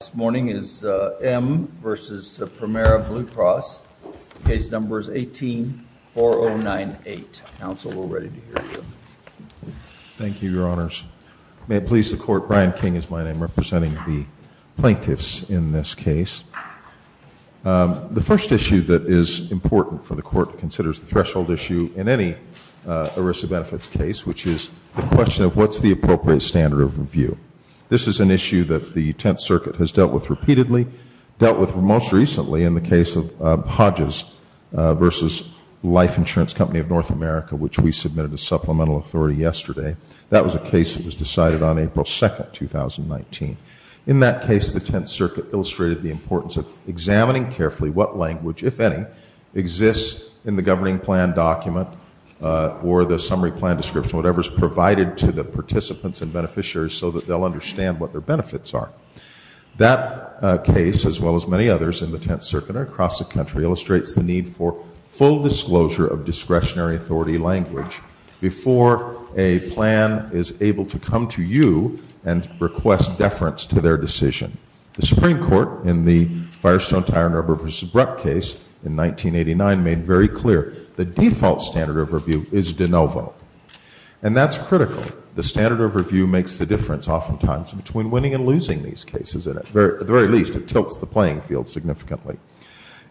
is M. v. Premera Blue Cross. Case number is 18-4098. Counsel, we're ready to hear you. Thank you, Your Honors. May it please the Court, Brian King is my name, representing the plaintiffs in this case. The first issue that is important for the Court, considers the threshold issue in any ERISA benefits case, which is the question of what's the benefits. This is dealt with repeatedly, dealt with most recently in the case of Hodges v. Life Insurance Company of North America, which we submitted as supplemental authority yesterday. That was a case that was decided on April 2, 2019. In that case, the Tenth Circuit illustrated the importance of examining carefully what language, if any, exists in the governing plan document or the summary plan description, whatever is provided to the participants and beneficiaries so that they'll understand what their benefits are. That case, as well as many others in the Tenth Circuit and across the country, illustrates the need for full disclosure of discretionary authority language before a plan is able to come to you and request deference to their decision. The Supreme Court, in the Firestone-Tyrone River v. Bruck case in 1989, made very clear the default standard of review is de novo. And that's critical. The standard of review makes the difference oftentimes between winning and losing these cases. At the very least, it tilts the playing field significantly.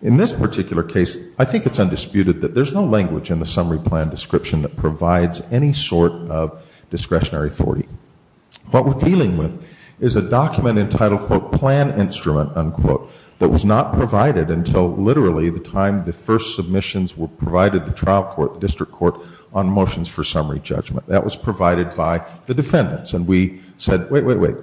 In this particular case, I think it's undisputed that there's no language in the summary plan description that provides any sort of discretionary authority. What we're dealing with is a document entitled, quote, plan instrument, unquote, that was not provided until literally the time the first submissions were provided to the trial court, district court, on motions for summary judgment. That was provided by the defendants. And we said, wait, wait, wait.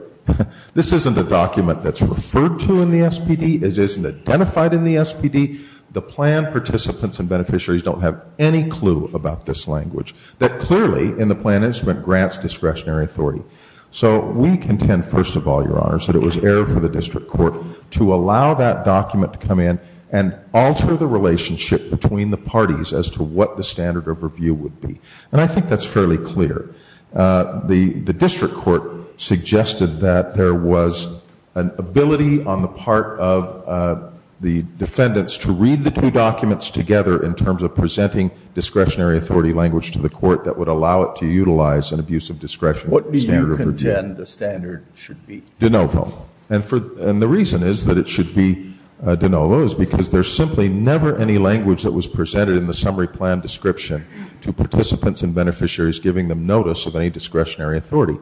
This isn't a document that's referred to in the SPD. It isn't identified in the SPD. The plan participants and beneficiaries don't have any clue about this language. That clearly, in the plan instrument, grants discretionary authority. So we contend, first of all, Your Honors, that it was error for the district court to allow that document to come in and alter the relationship between the parties as to what the standard of review would be. And I think that's fairly clear. The district court suggested that there was an ability on the part of the defendants to read the two documents together in terms of presenting discretionary authority language to the court that would allow it to utilize an abuse of discretion. What do you contend the standard should be? De novo. And the reason is that it should be de novo is because there's simply never any language that was presented in the summary plan description to participants and beneficiaries giving them notice of any discretionary authority.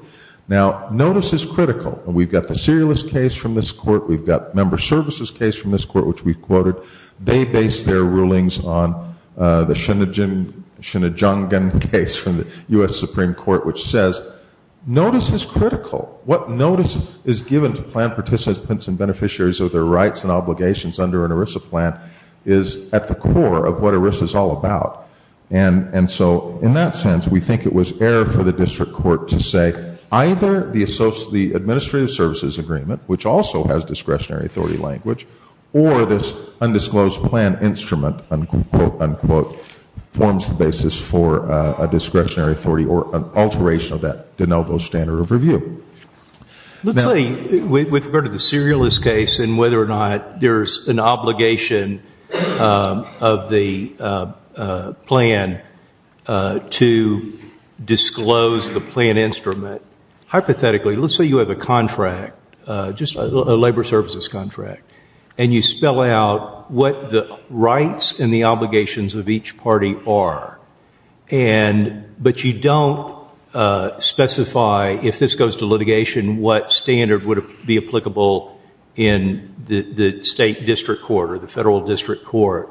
Now, notice is critical. We've got the serialist case from this court. We've got member services case from this court, which we quoted. They based their rulings on the Shinnejong case from the U.S. Supreme Court, which says notice is critical. What notice is given to plan participants and beneficiaries of their rights and obligations under an ERISA plan is at the core of what ERISA is all about. And so in that sense, we think it was error for the district court to say either the administrative services agreement, which also has discretionary authority language, or this undisclosed plan instrument, unquote, unquote, forms the basis for a discretionary authority or an alteration of that de novo standard of review. Let's say we've heard of the serialist case and whether or not there's an obligation of the plan to disclose the plan instrument. Hypothetically, let's say you have a contract, just a labor services contract, and you spell out what the rights and the obligations of each party are. But you don't specify, if this goes to litigation, what standard would be applicable in the state district court or the federal district court.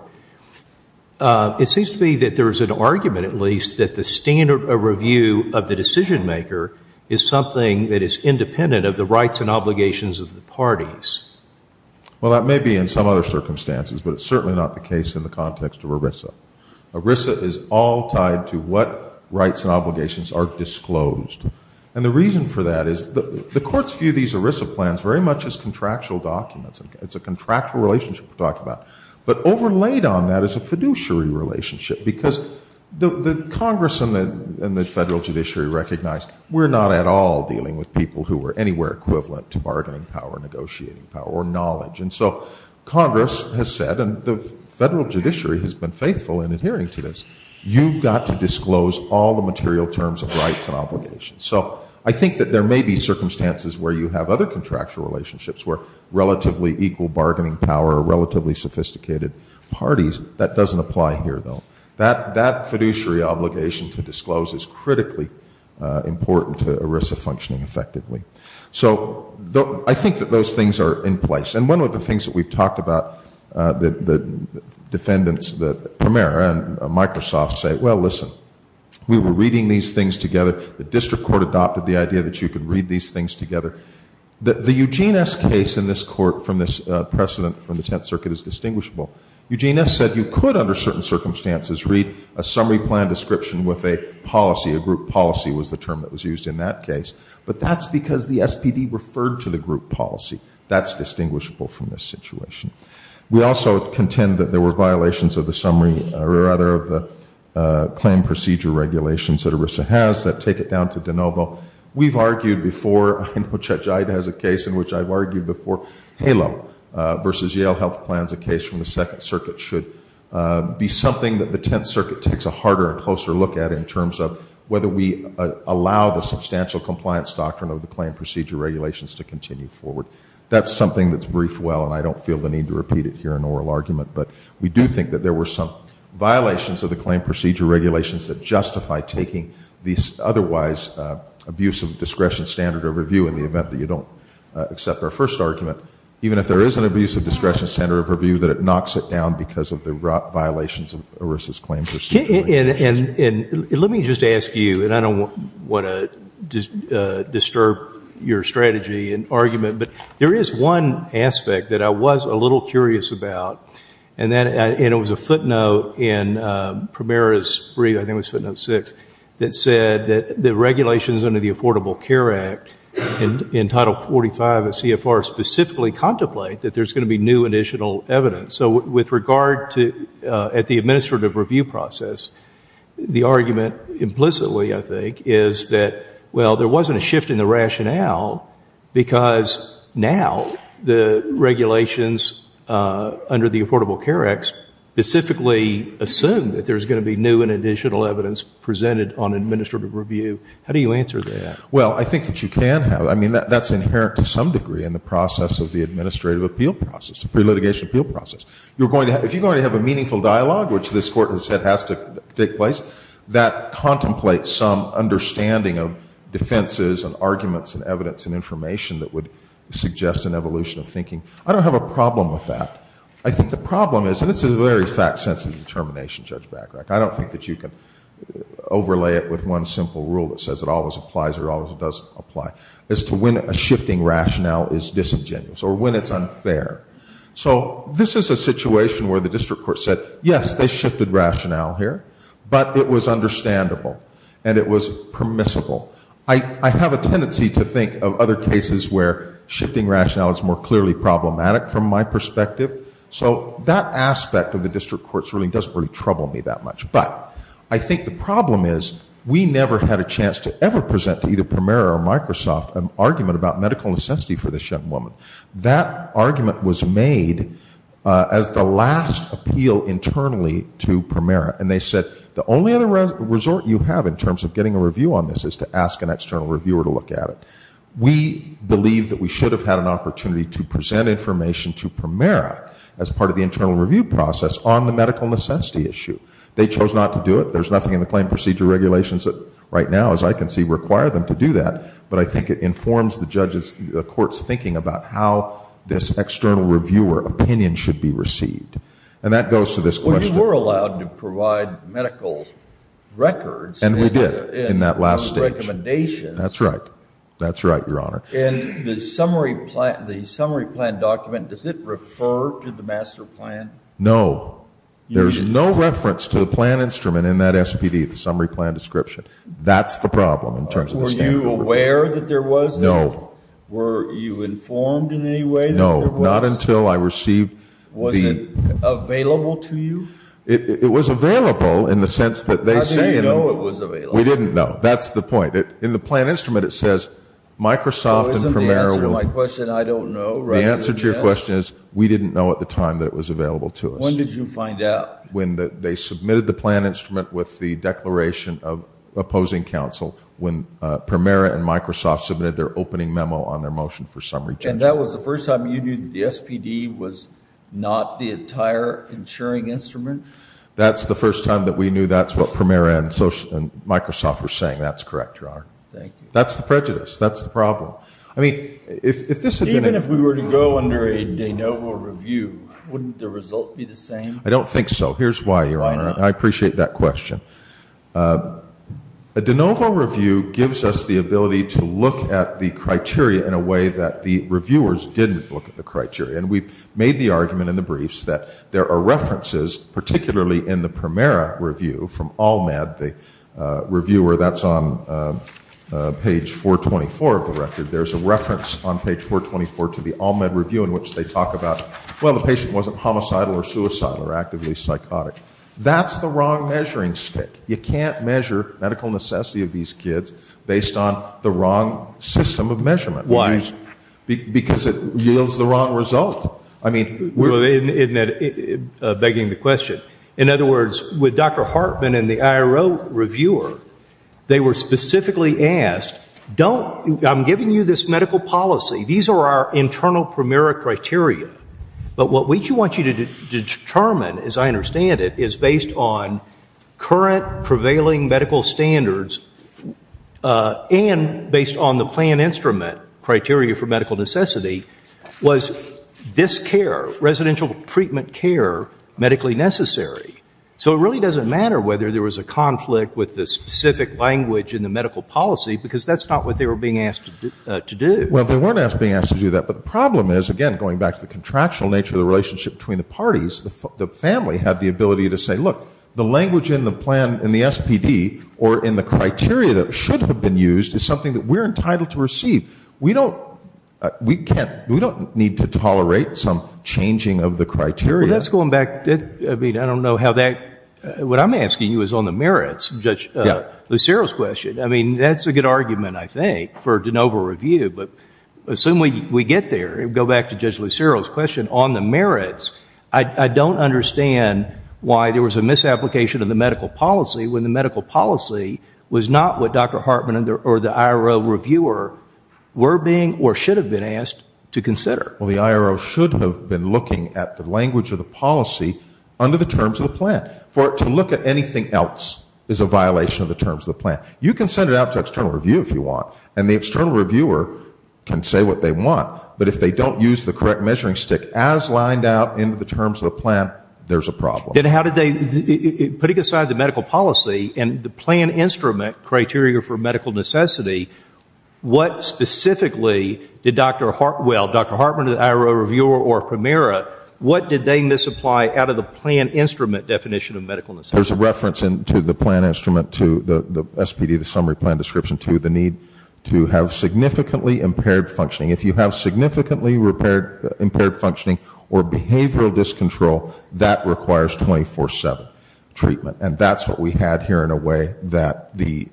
It seems to be that there's an argument, at least, that the standard of review of the decision maker is something that is independent of the rights and obligations of the parties. Well, that may be in some other circumstances, but it's certainly not the case in the context of ERISA. ERISA is all tied to what rights and obligations are disclosed. And the reason for that is the courts view these ERISA plans very much as contractual documents. It's a contractual relationship we're talking about. But overlaid on that is a fiduciary relationship, because the Congress and the federal judiciary recognize we're not at all dealing with people who are anywhere equivalent to bargaining power, negotiating power, or knowledge. And so Congress has said, and the federal judiciary has been faithful in adhering to this, you've got to disclose all the material terms of rights and obligations. So I think that there may be circumstances where you have other contractual relationships where relatively equal bargaining power or relatively sophisticated parties. That doesn't apply here, though. That fiduciary obligation to disclose is critically important to ERISA One of the things that we've talked about, the defendants, the premier and Microsoft say, well, listen, we were reading these things together. The district court adopted the idea that you could read these things together. The Eugene S. case in this court from this precedent from the Tenth Circuit is distinguishable. Eugene S. said you could under certain circumstances read a summary plan description with a policy, a group policy was the term that was used in that case. But that's because the SPD referred to the group policy. That's distinguishable from this situation. We also contend that there were violations of the summary, or rather of the claim procedure regulations that ERISA has that take it down to de novo. We've argued before, I know Chet Jaid has a case in which I've argued before, HALO versus Yale Health Plans, a case from the Second Circuit, should be something that the Tenth Circuit takes a harder and closer look at in terms of whether we allow the substantial compliance doctrine of the claim procedure regulations to continue forward. That's something that's briefed well and I don't feel the need to repeat it here in oral argument. But we do think that there were some violations of the claim procedure regulations that justify taking these otherwise abusive discretion standard of review in the event that you don't accept our first argument. Even if there is an abusive discretion standard of review that it knocks it down because of the violations of ERISA's claim procedure regulations. And let me just ask you, and I don't want to disturb your strategy and argument, but there is one aspect that I was a little curious about, and it was a footnote in Primera's brief, I think it was footnote six, that said that the regulations under the Affordable Care Act in Title 45 of CFR specifically contemplate that there's going to be new additional evidence. So with regard to, at the administrative review process, the argument implicitly, I think, is that, well, there wasn't a shift in the rationale because now the regulations under the Affordable Care Act specifically assume that there's going to be new and additional evidence presented on administrative review. How do you answer that? Well I think that you can have, I mean that's inherent to some degree in the process of the administrative appeal process, the pre-litigation appeal process. If you're going to have a meaningful dialogue, which this Court has said has to take place, that contemplates some understanding of defenses and arguments and evidence and information that would suggest an evolution of thinking. I don't have a problem with that. I think the problem is, and it's a very fact-sensitive determination, Judge Bachrach, I don't think that you can overlay it with one simple rule that says it always applies or always doesn't apply, as to when a shifting rationale is disingenuous or when it's unfair. So this is a situation where the district court said, yes, they shifted rationale here, but it was understandable and it was permissible. I have a tendency to think of other cases where shifting rationale is more clearly problematic from my perspective, so that aspect of the district court's ruling doesn't really trouble me that much. But I think the problem is, we never had a chance to ever present to either Premier or Microsoft an argument about medical necessity for this young woman. That argument was made as the last appeal internally to Premier, and they said, the only other resort you have in terms of getting a review on this is to ask an external reviewer to look at it. We believe that we should have had an opportunity to present information to Premier as part of the internal review process on the medical necessity issue. They chose not to do it. There's nothing in the claim procedure regulations that right now, as I can see, require them to do that, but I think it informs the court's thinking about how this external reviewer opinion should be received. And that goes to this question. Well, you were allowed to provide medical records. And we did in that last stage. And recommendations. That's right. That's right, Your Honor. And the summary plan document, does it refer to the master plan? No. There's no reference to the plan instrument in that SPD, the summary plan description. That's the problem in terms of the statute. Were you aware that there was? No. Were you informed in any way that there was? No. Not until I received the... Was it available to you? It was available in the sense that they say... How did you know it was available? We didn't know. That's the point. In the plan instrument, it says, Microsoft and Premier... So isn't the answer to my question, I don't know, rather than yes? The answer to your question is, we didn't know at the time that it was available to us. When did you find out? When they submitted the plan instrument with the declaration of opposing counsel, when Premier and Microsoft submitted their opening memo on their motion for summary changes. And that was the first time you knew that the SPD was not the entire insuring instrument? That's the first time that we knew that's what Premier and Microsoft were saying. That's correct, Your Honor. Thank you. That's the prejudice. That's the problem. I mean, if this had been... Even if we were to go under a de novo review, wouldn't the result be the same? I don't think so. Here's why, Your Honor. I appreciate that question. A de novo review gives us the ability to look at the criteria in a way that the reviewers didn't look at the criteria. And we've made the argument in the briefs that there are references, particularly in the Primera review from Almed, the reviewer, that's on page 424 of the record. There's a reference on page 424 to the Almed review in which they talk about, well, the patient wasn't homicidal or suicidal or actively psychotic. That's the wrong measuring stick. You can't measure medical necessity of these kids based on the wrong system of measurement. Why? Because it yields the wrong result. I mean... Begging the question. In other words, with Dr. Hartman and the IRO reviewer, they were specifically asked, I'm giving you this medical policy. These are our is based on current prevailing medical standards and based on the plan instrument, criteria for medical necessity, was this care, residential treatment care, medically necessary. So it really doesn't matter whether there was a conflict with the specific language in the medical policy, because that's not what they were being asked to do. Well, they weren't being asked to do that. But the problem is, again, going back to the parties, the family had the ability to say, look, the language in the plan, in the SPD, or in the criteria that should have been used is something that we're entitled to receive. We don't need to tolerate some changing of the criteria. Well, that's going back. I mean, I don't know how that... What I'm asking you is on the merits of Judge Lucero's question. I mean, that's a good argument, I think, for de novo review. But assume we get there, go back to Judge Lucero's question on the merits. I don't understand why there was a misapplication of the medical policy when the medical policy was not what Dr. Hartman or the IRO reviewer were being or should have been asked to consider. Well, the IRO should have been looking at the language of the policy under the terms of the plan. For it to look at anything else is a violation of the terms of the plan. You can send it out to external review if you want, and the external reviewer can say what they want. But if they don't use the correct measuring stick as lined out into the terms of the plan, there's a problem. Then how did they... Putting aside the medical policy and the plan instrument criteria for medical necessity, what specifically did Dr. Hartman, the IRO reviewer, or Primera, what did they misapply out of the plan instrument definition of medical necessity? There's a reference to the plan instrument, to the SPD, the summary plan description, the need to have significantly impaired functioning. If you have significantly impaired functioning or behavioral discontrol, that requires 24-7 treatment. And that's what we had here in a way that neither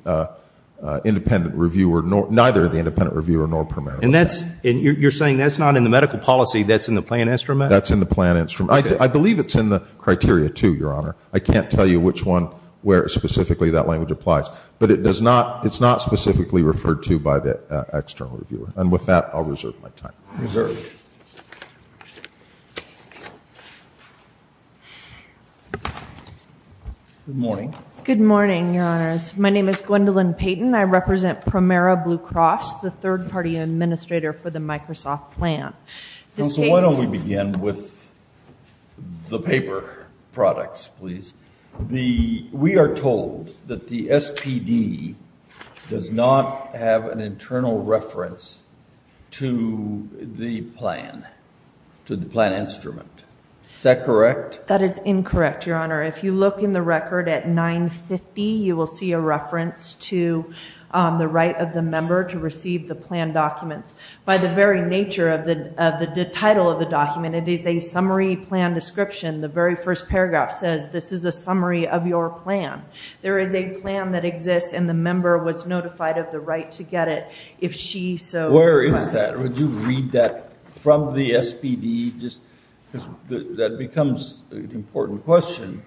the independent reviewer nor Primera. And you're saying that's not in the medical policy, that's in the plan instrument? That's in the plan instrument. I believe it's in the criteria too, Your Honor. I can't tell which one where specifically that language applies. But it's not specifically referred to by the external reviewer. And with that, I'll reserve my time. Reserved. Good morning. Good morning, Your Honors. My name is Gwendolyn Payton. I represent Primera Blue Cross, the third-party administrator for the Microsoft plan. Why don't we begin with the paper products, please? We are told that the SPD does not have an internal reference to the plan, to the plan instrument. Is that correct? That is incorrect, Your Honor. If you look in the record at 950, you will see a reference to the right of the member to receive the plan documents. By the very nature of the title of the document, it is a summary plan description. The very first paragraph says, this is a summary of your plan. There is a plan that exists, and the member was notified of the right to get it if she so requests. Where is that? Would you read that from the SPD? That becomes an important question.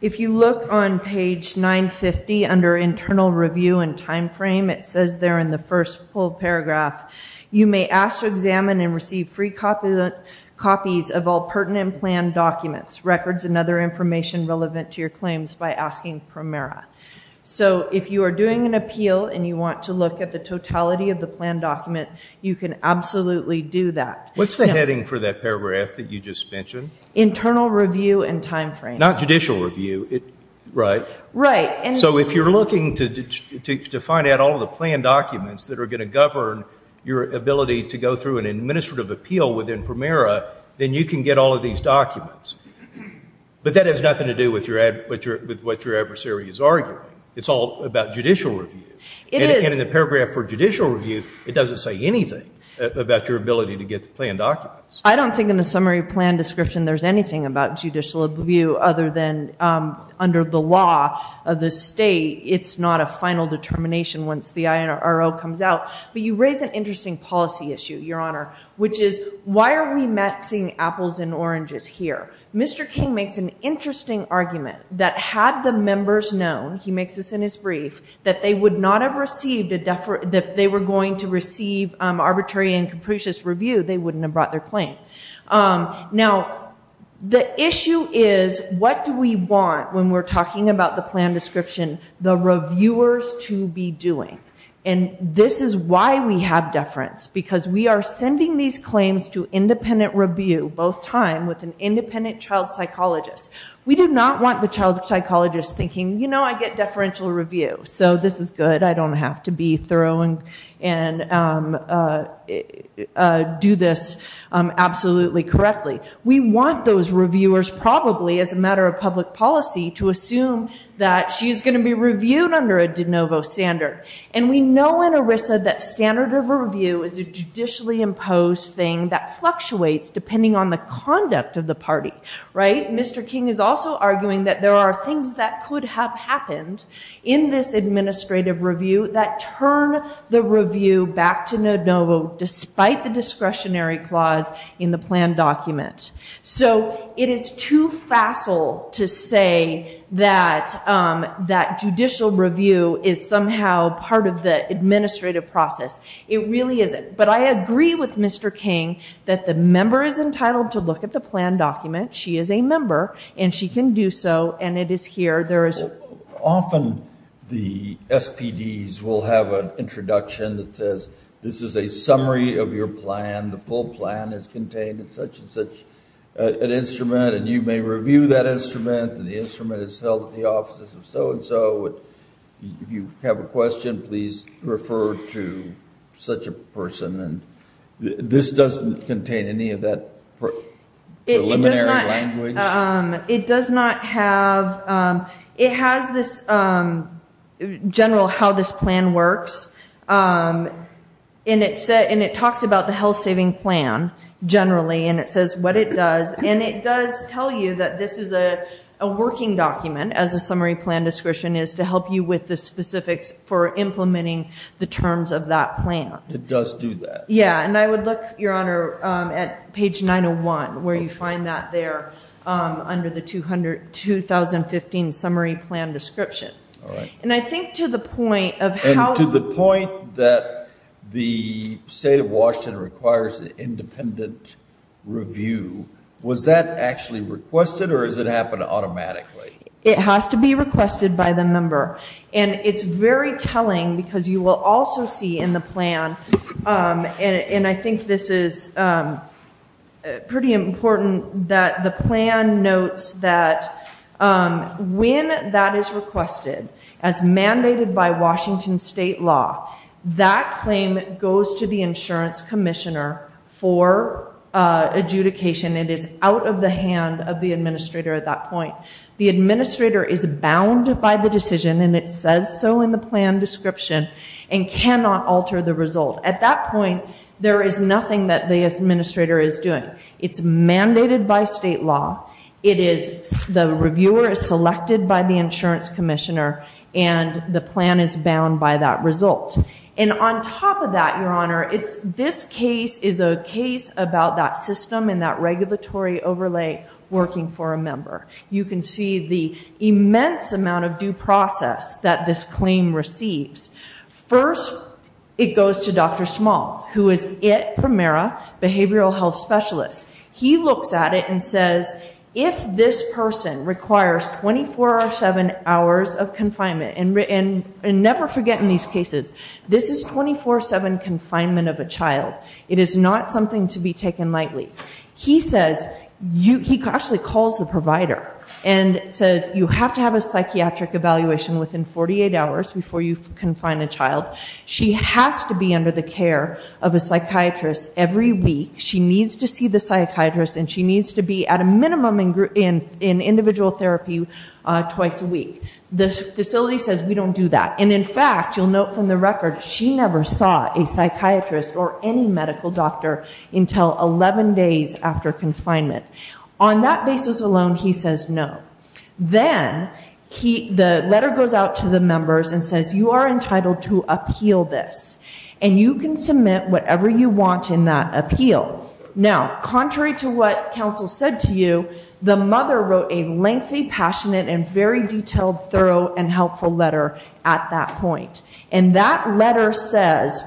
If you look on page 950 under internal review and time frame, it says there in the first full paragraph, you may ask to examine and receive free copies of all pertinent plan documents, records, and other information relevant to your claims by asking Primera. So if you are doing an appeal and you want to look at the totality of the plan document, you can absolutely do that. What's the heading for that paragraph that you just mentioned? Internal review and time frame. Not judicial review. So if you're looking to find out all of the plan documents that are going to govern your ability to go through an administrative appeal within Primera, then you can get all of these documents. But that has nothing to do with what your adversary is arguing. It's all about judicial review. In the paragraph for judicial review, it doesn't say anything about your ability to get the plan documents. I don't think in the summary plan description there's anything about judicial review other than under the law of the state, it's not a final determination once the IRO comes out. But you raise an interesting policy issue, Your Honor, which is, why are we mixing apples and oranges here? Mr. King makes an interesting argument that had the members known, he makes this in his brief, that they would not have received a deferral, that if they were going to receive arbitrary and capricious review, they wouldn't have brought their claim. Now, the issue is, what do we want, when we're talking about the plan description, the reviewers to be doing? And this is why we have deference, because we are sending these claims to independent review, both time, with an independent child psychologist. We do not want the child psychologist thinking, you know, I get deferential review, so this is it, I don't have to be thorough and do this absolutely correctly. We want those reviewers probably, as a matter of public policy, to assume that she's going to be reviewed under a de novo standard. And we know in ERISA that standard of review is a judicially imposed thing that fluctuates depending on the conduct of the party, right? Mr. King is also arguing that there are things that could have happened in this administrative review that turn the review back to de novo, despite the discretionary clause in the plan document. So it is too facile to say that judicial review is somehow part of the administrative process. It really isn't. But I agree with Mr. King that the member is entitled to look at the plan document, she is a member, and she can do so, and it is here. Often the SPDs will have an introduction that says, this is a summary of your plan, the full plan is contained in such and such an instrument, and you may review that instrument, and the instrument is held at the offices of so-and-so, if you have a question, please refer to such a person. This doesn't contain any of that preliminary... Preliminary language? It does not have... It has this general how this plan works, and it talks about the health saving plan, generally, and it says what it does, and it does tell you that this is a working document, as a summary plan description is, to help you with the specifics for implementing the terms of that plan. It does do that. Yeah, and I would look, Your Honor, at page 901, where you find that there, under the 2015 summary plan description. And I think to the point of how... To the point that the state of Washington requires an independent review, was that actually requested, or does it happen automatically? It has to be requested by the member. And it's very telling, because you will also see in the plan, and I think this is pretty important, that the plan notes that when that is requested, as mandated by Washington state law, that claim goes to the insurance commissioner for adjudication. It is out of the hand of the administrator at that point. The administrator is bound by the decision, and it says so in the plan description, and cannot alter the result. At that point, there is nothing that the administrator is doing. It's mandated by state law. The reviewer is selected by the insurance commissioner, and the plan is bound by that result. And on top of that, Your Honor, this case is a case about that system, and that regulatory overlay working for a member. You can see the immense amount of due process that this claim receives. First, it goes to Dr. Small, who is IT-Primera Behavioral Health Specialist. He looks at it and says, if this person requires 24-7 hours of confinement, and never forget in these cases, this is 24-7 confinement of a child. It is not something to be taken lightly. He says, he actually calls the provider, and says, you have to have a psychiatric evaluation within 48 hours before you confine a child. She has to be under the care of a psychiatrist every week. She needs to see the psychiatrist, and she needs to be at a minimum in individual therapy twice a week. The facility says, we don't do that. And in fact, you'll note from the record, she never saw a psychiatrist or any medical doctor until 11 days after confinement. On that basis alone, he says no. Then, the letter goes out to the members and says, you are entitled to appeal this. And you can submit whatever you want in that appeal. Now, contrary to what counsel said to you, the mother wrote a lengthy, passionate, and very detailed, thorough, and helpful letter at that point. And that letter says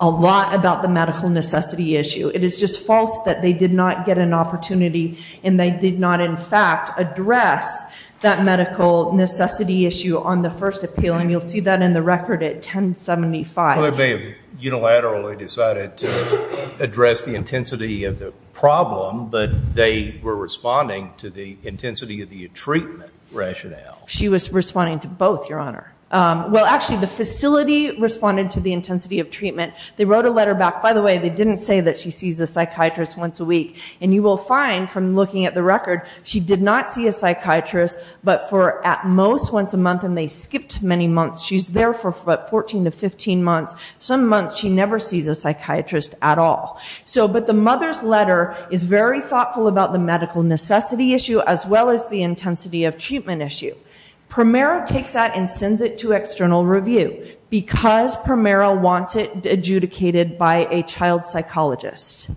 a lot about the medical necessity issue. It is just false that they did not get an opportunity, and they did not, in fact, address that medical necessity issue on the first appeal. And you'll see that in the record at 1075. They unilaterally decided to address the intensity of the problem, but they were responding to the intensity of the treatment rationale. She was responding to both, Your Honor. Well, actually, the facility responded to the intensity of treatment. They wrote a letter back. By the way, they didn't say that she sees the psychiatrist once a week. And you will find, from looking at the record, she did not see a psychiatrist, but for, at most, once a month. And they skipped many months. She's there for about 14 to 15 months. Some months, she never sees a psychiatrist at all. But the mother's letter is very thoughtful about the medical necessity issue, as well as the intensity of treatment issue. Primera takes that and sends it to external review, because Primera wants it adjudicated by a child psychologist,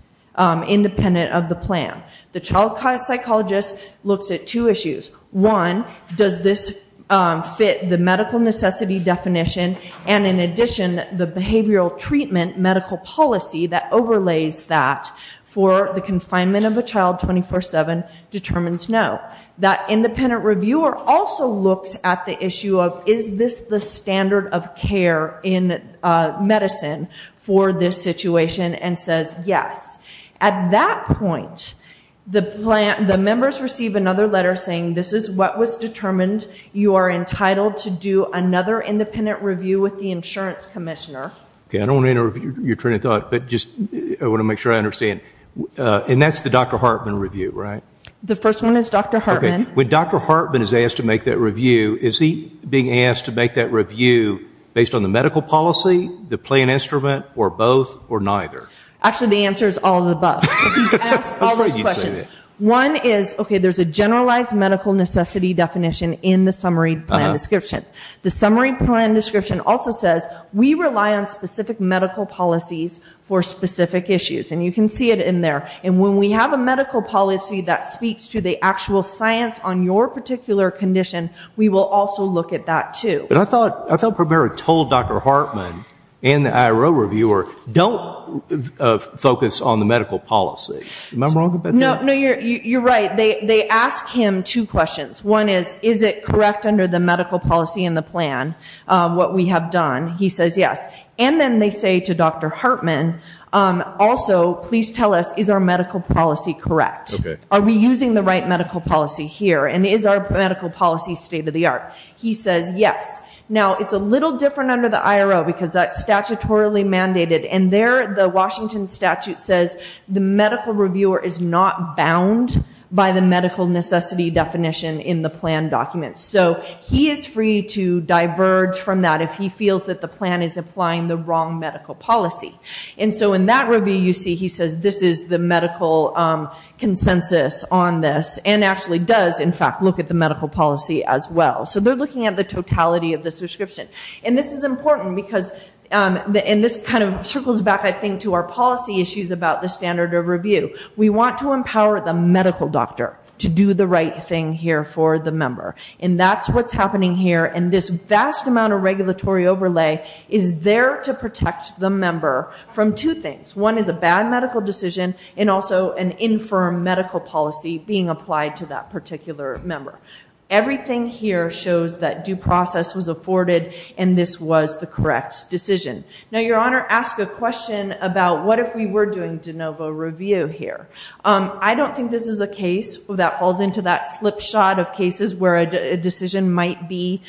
independent of the plan. The child psychologist looks at two issues. One, does this fit the medical necessity definition? And in addition, the behavioral treatment medical policy that overlays that for the confinement of a child 24-7 determines no. That independent reviewer also looks at the issue of, is this the standard of care in medicine for this situation? And says, yes. At that point, the members receive another letter saying, this is what was determined. You are entitled to do another independent review with the insurance commissioner. Okay, I don't want to interrupt your train of thought, but I want to make sure I understand. And that's the Dr. Hartman review, right? The first one is Dr. Hartman. When Dr. Hartman is asked to make that review, is he being asked to make that review based on the medical policy, the plan instrument, or both, or neither? Actually, the answer is all of the above. Because he's asked all those questions. One is, okay, there's a generalized medical necessity definition in the summary plan description. The summary plan description also says, we rely on specific medical policies for specific issues. And you can see it in there. And when we have a medical policy that speaks to the actual science on your particular condition, we will also look at that too. I felt prepared to tell Dr. Hartman and the IRO reviewer, don't focus on the medical policy. Am I wrong about that? No, you're right. They ask him two questions. One is, is it correct under the medical policy and the plan, what we have done? He says yes. And then they say to Dr. Hartman, also, please tell us, is our medical policy correct? Are we using the right medical policy here? And is our medical policy state of the art? He says yes. Now, it's a little different under the IRO, because that's statutorily mandated. And there, the Washington statute says, the medical reviewer is not bound by the medical necessity definition in the plan documents. So he is free to diverge from that if he feels that the plan is applying the wrong medical policy. And so in that review, you see he says, this is the medical consensus on this. And actually does, in fact, look at the medical policy as well. So they're looking at the totality of this description. And this is important, because this kind of circles back, I think, to our policy issues about the standard of review. We want to empower the medical doctor to do the right thing here for the member. And that's what's happening here. And this vast amount of regulatory overlay is there to protect the member from two things. One is a bad medical decision and also an infirm medical policy being applied to that particular member. Everything here shows that due process was afforded. And this was the correct decision. Now, Your Honor, ask a question about what if we were doing de novo review here. I don't think this is a case that falls into that slipshod of cases where a decision might be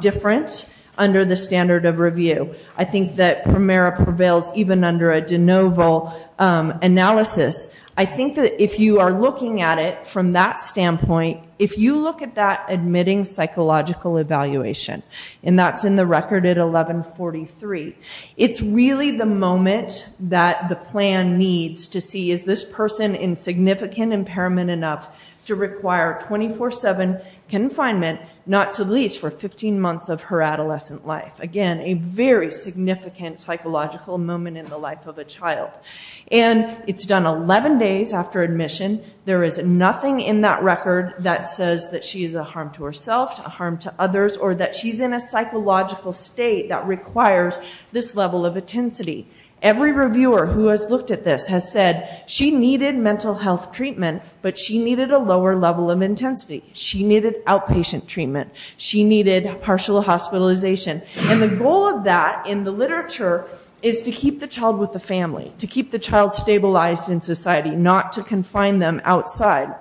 different under the standard of review. I think that Primera prevails even under a de novo analysis. I think that if you are looking at it from that standpoint, if you look at that admitting psychological evaluation, and that's in the record at 1143, it's really the moment that the plan needs to see is this person in significant impairment enough to require 24-7 confinement, not to least for 15 months of her adolescent life. Again, a very significant psychological moment in the life of a child. And it's done 11 days after admission. There is nothing in that record that says that she is a harm to herself, a harm to others, or that she's in a psychological state that requires this level of intensity. Every reviewer who has looked at this has said she needed mental health treatment, but she needed a lower level of intensity. She needed outpatient treatment. She needed partial hospitalization. And the goal of that in the literature is to keep the child with the family, to keep the child stabilized in society, not to confine them outside.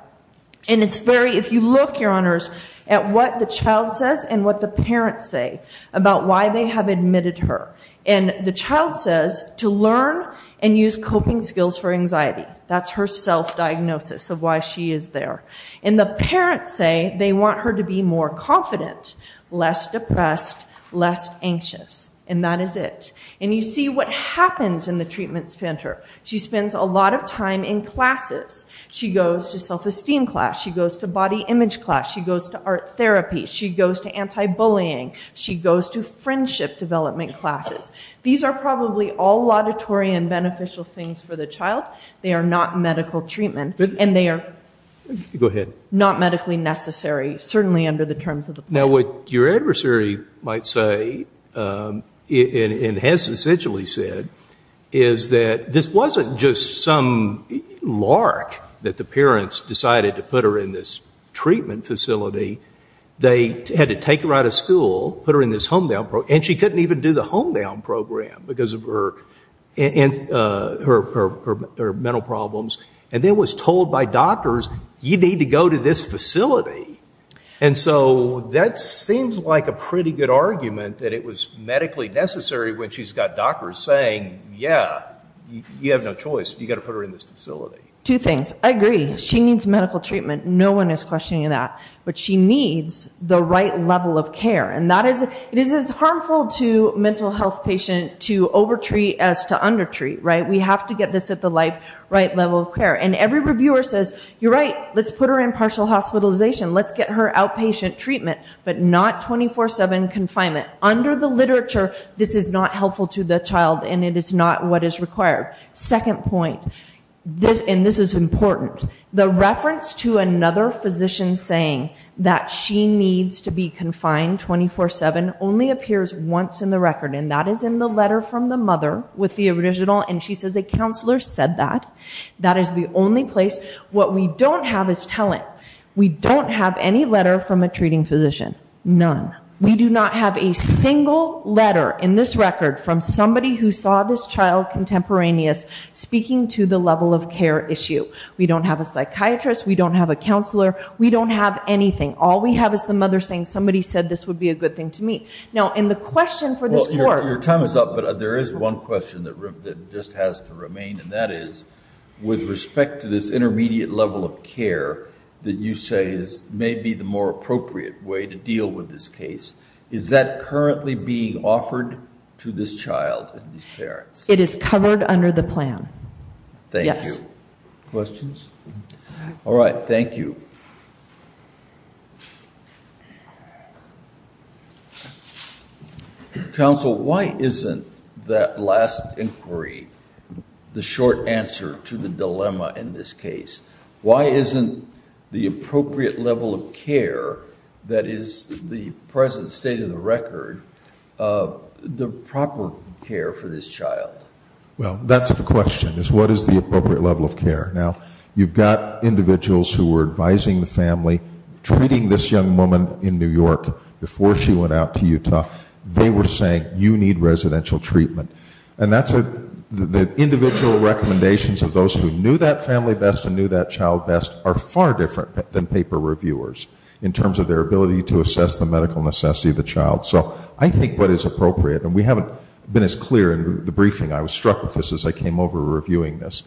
And it's very, if you look, your honors, at what the child says and what the parents say about why they have admitted her. And the child says to learn and use coping skills for anxiety. That's her self-diagnosis of why she is there. And the parents say they want her to be more confident, less depressed, less anxious. And that is it. And you see what happens in the treatment center. She spends a lot of time in classes. She goes to self-esteem class. She goes to body image class. She goes to art therapy. She goes to anti-bullying. She goes to friendship development classes. These are probably all laudatory and beneficial things for the child. They are not medical treatment. And they are not medically necessary, certainly under the terms of the plan. Now, what your adversary might say, and has essentially said, is that this wasn't just some lark that the parents decided to put her in this treatment facility. They had to take her out of school, put her in this home-down program. And she couldn't even do the home-down program because of her mental problems. And then was told by doctors, you need to go to this facility. And so that seems like a pretty good argument that it was medically necessary when she's got doctors saying, yeah, you have no choice. You've got to put her in this facility. Two things. I agree. She needs medical treatment. No one is questioning that. But she needs the right level of care. And it is as harmful to a mental health patient to over-treat as to under-treat, right? We have to get this at the right level of care. And every reviewer says, you're right. Let's put her in partial hospitalization. Let's get her outpatient treatment. But not 24-7 confinement. Under the literature, this is not helpful to the child. And it is not what is required. Second point. And this is important. The reference to another physician saying that she needs to be confined 24-7 only appears once in the record. And that is in the letter from the mother with the original. And she says, a counselor said that. That is the only place. What we don't have is talent. We don't have any letter from a treating physician. None. We do not have a single letter in this record from somebody who saw this child contemporaneous speaking to the level of care issue. We don't have a psychiatrist. We don't have a counselor. We don't have anything. All we have is the mother saying, somebody said this would be a good thing to me. Now, in the question for this court. Your time is up. But there is one question that just has to remain. And that is, with respect to this intermediate level of care that you say is maybe the more appropriate way to deal with this case. Is that currently being offered to this child and these parents? It is covered under the plan. Thank you. Questions? All right. Thank you. Counsel, why isn't that last inquiry the short answer to the dilemma in this case? Why isn't the appropriate level of care that is the present state of the record, the proper care for this child? Well, that's the question is, what is the appropriate level of care? Now, you've got individuals who were advising the family, treating this young woman in New York before she went out to Utah. They were saying, you need residential treatment. And that's the individual recommendations of those who knew that family best and knew that child best are far different than paper reviewers in terms of their ability to assess the medical necessity of the child. So I think what is appropriate, and we haven't been as clear in the briefing. I was struck with this as I came over reviewing this.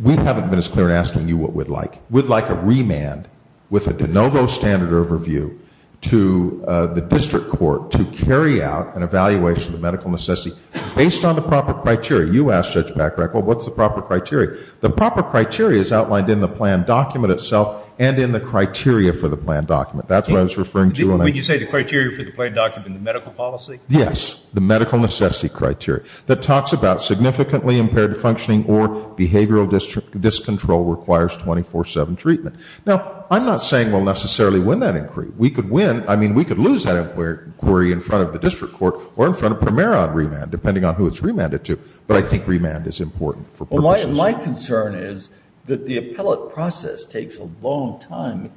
We haven't been as clear in asking you what we'd like. We'd like a remand with a de novo standard overview to the district court to carry out an evaluation of medical necessity based on the proper criteria. You asked, Judge Bachrach, well, what's the proper criteria? The proper criteria is outlined in the plan document itself and in the criteria for the plan document. That's what I was referring to. When you say the criteria for the plan document, the medical policy? Yes, the medical necessity criteria. That talks about significantly impaired functioning or behavioral discontrol requires 24-7 treatment. Now, I'm not saying we'll necessarily win that inquiry. We could win. I mean, we could lose that inquiry in front of the district court or in front of Primera on remand, depending on who it's remanded to. But I think remand is important for purposes. My concern is that the appellate process takes a long time.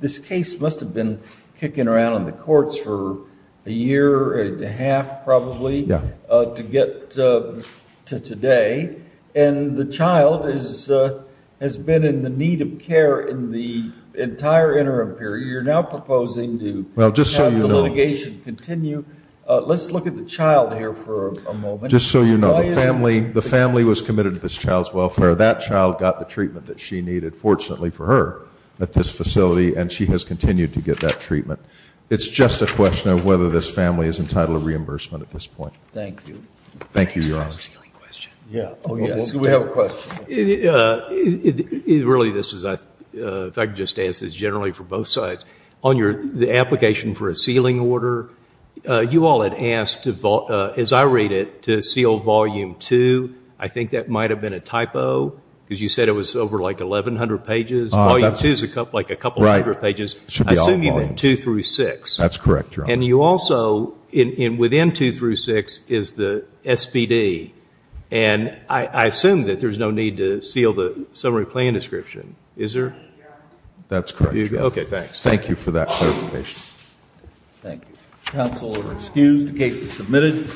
This case must have been kicking around in the courts for a year and a half probably to get to today, and the child has been in the need of care in the entire interim period. You're now proposing to have the litigation continue. Let's look at the child here for a moment. Just so you know, the family was committed to this child's welfare. That child got the treatment that she needed, fortunately for her, at this facility, and she has continued to get that treatment. It's just a question of whether this family is entitled to reimbursement at this point. Thank you. Thank you, Your Honor. Yeah. Oh, yes. We have a question. Really, this is, if I could just answer this generally for both sides. On the application for a sealing order, you all had asked, as I read it, to seal volume two. I think that might have been a typo because you said it was over like 1,100 pages. Volume two is like a couple hundred pages. It should be all volumes. I assume you mean two through six. That's correct, Your Honor. You also, within two through six, is the SPD. I assume that there's no need to seal the summary plan description. Is there? That's correct, Your Honor. Okay, thanks. Thank you for that clarification. Thank you. Counsel are excused. The case is submitted.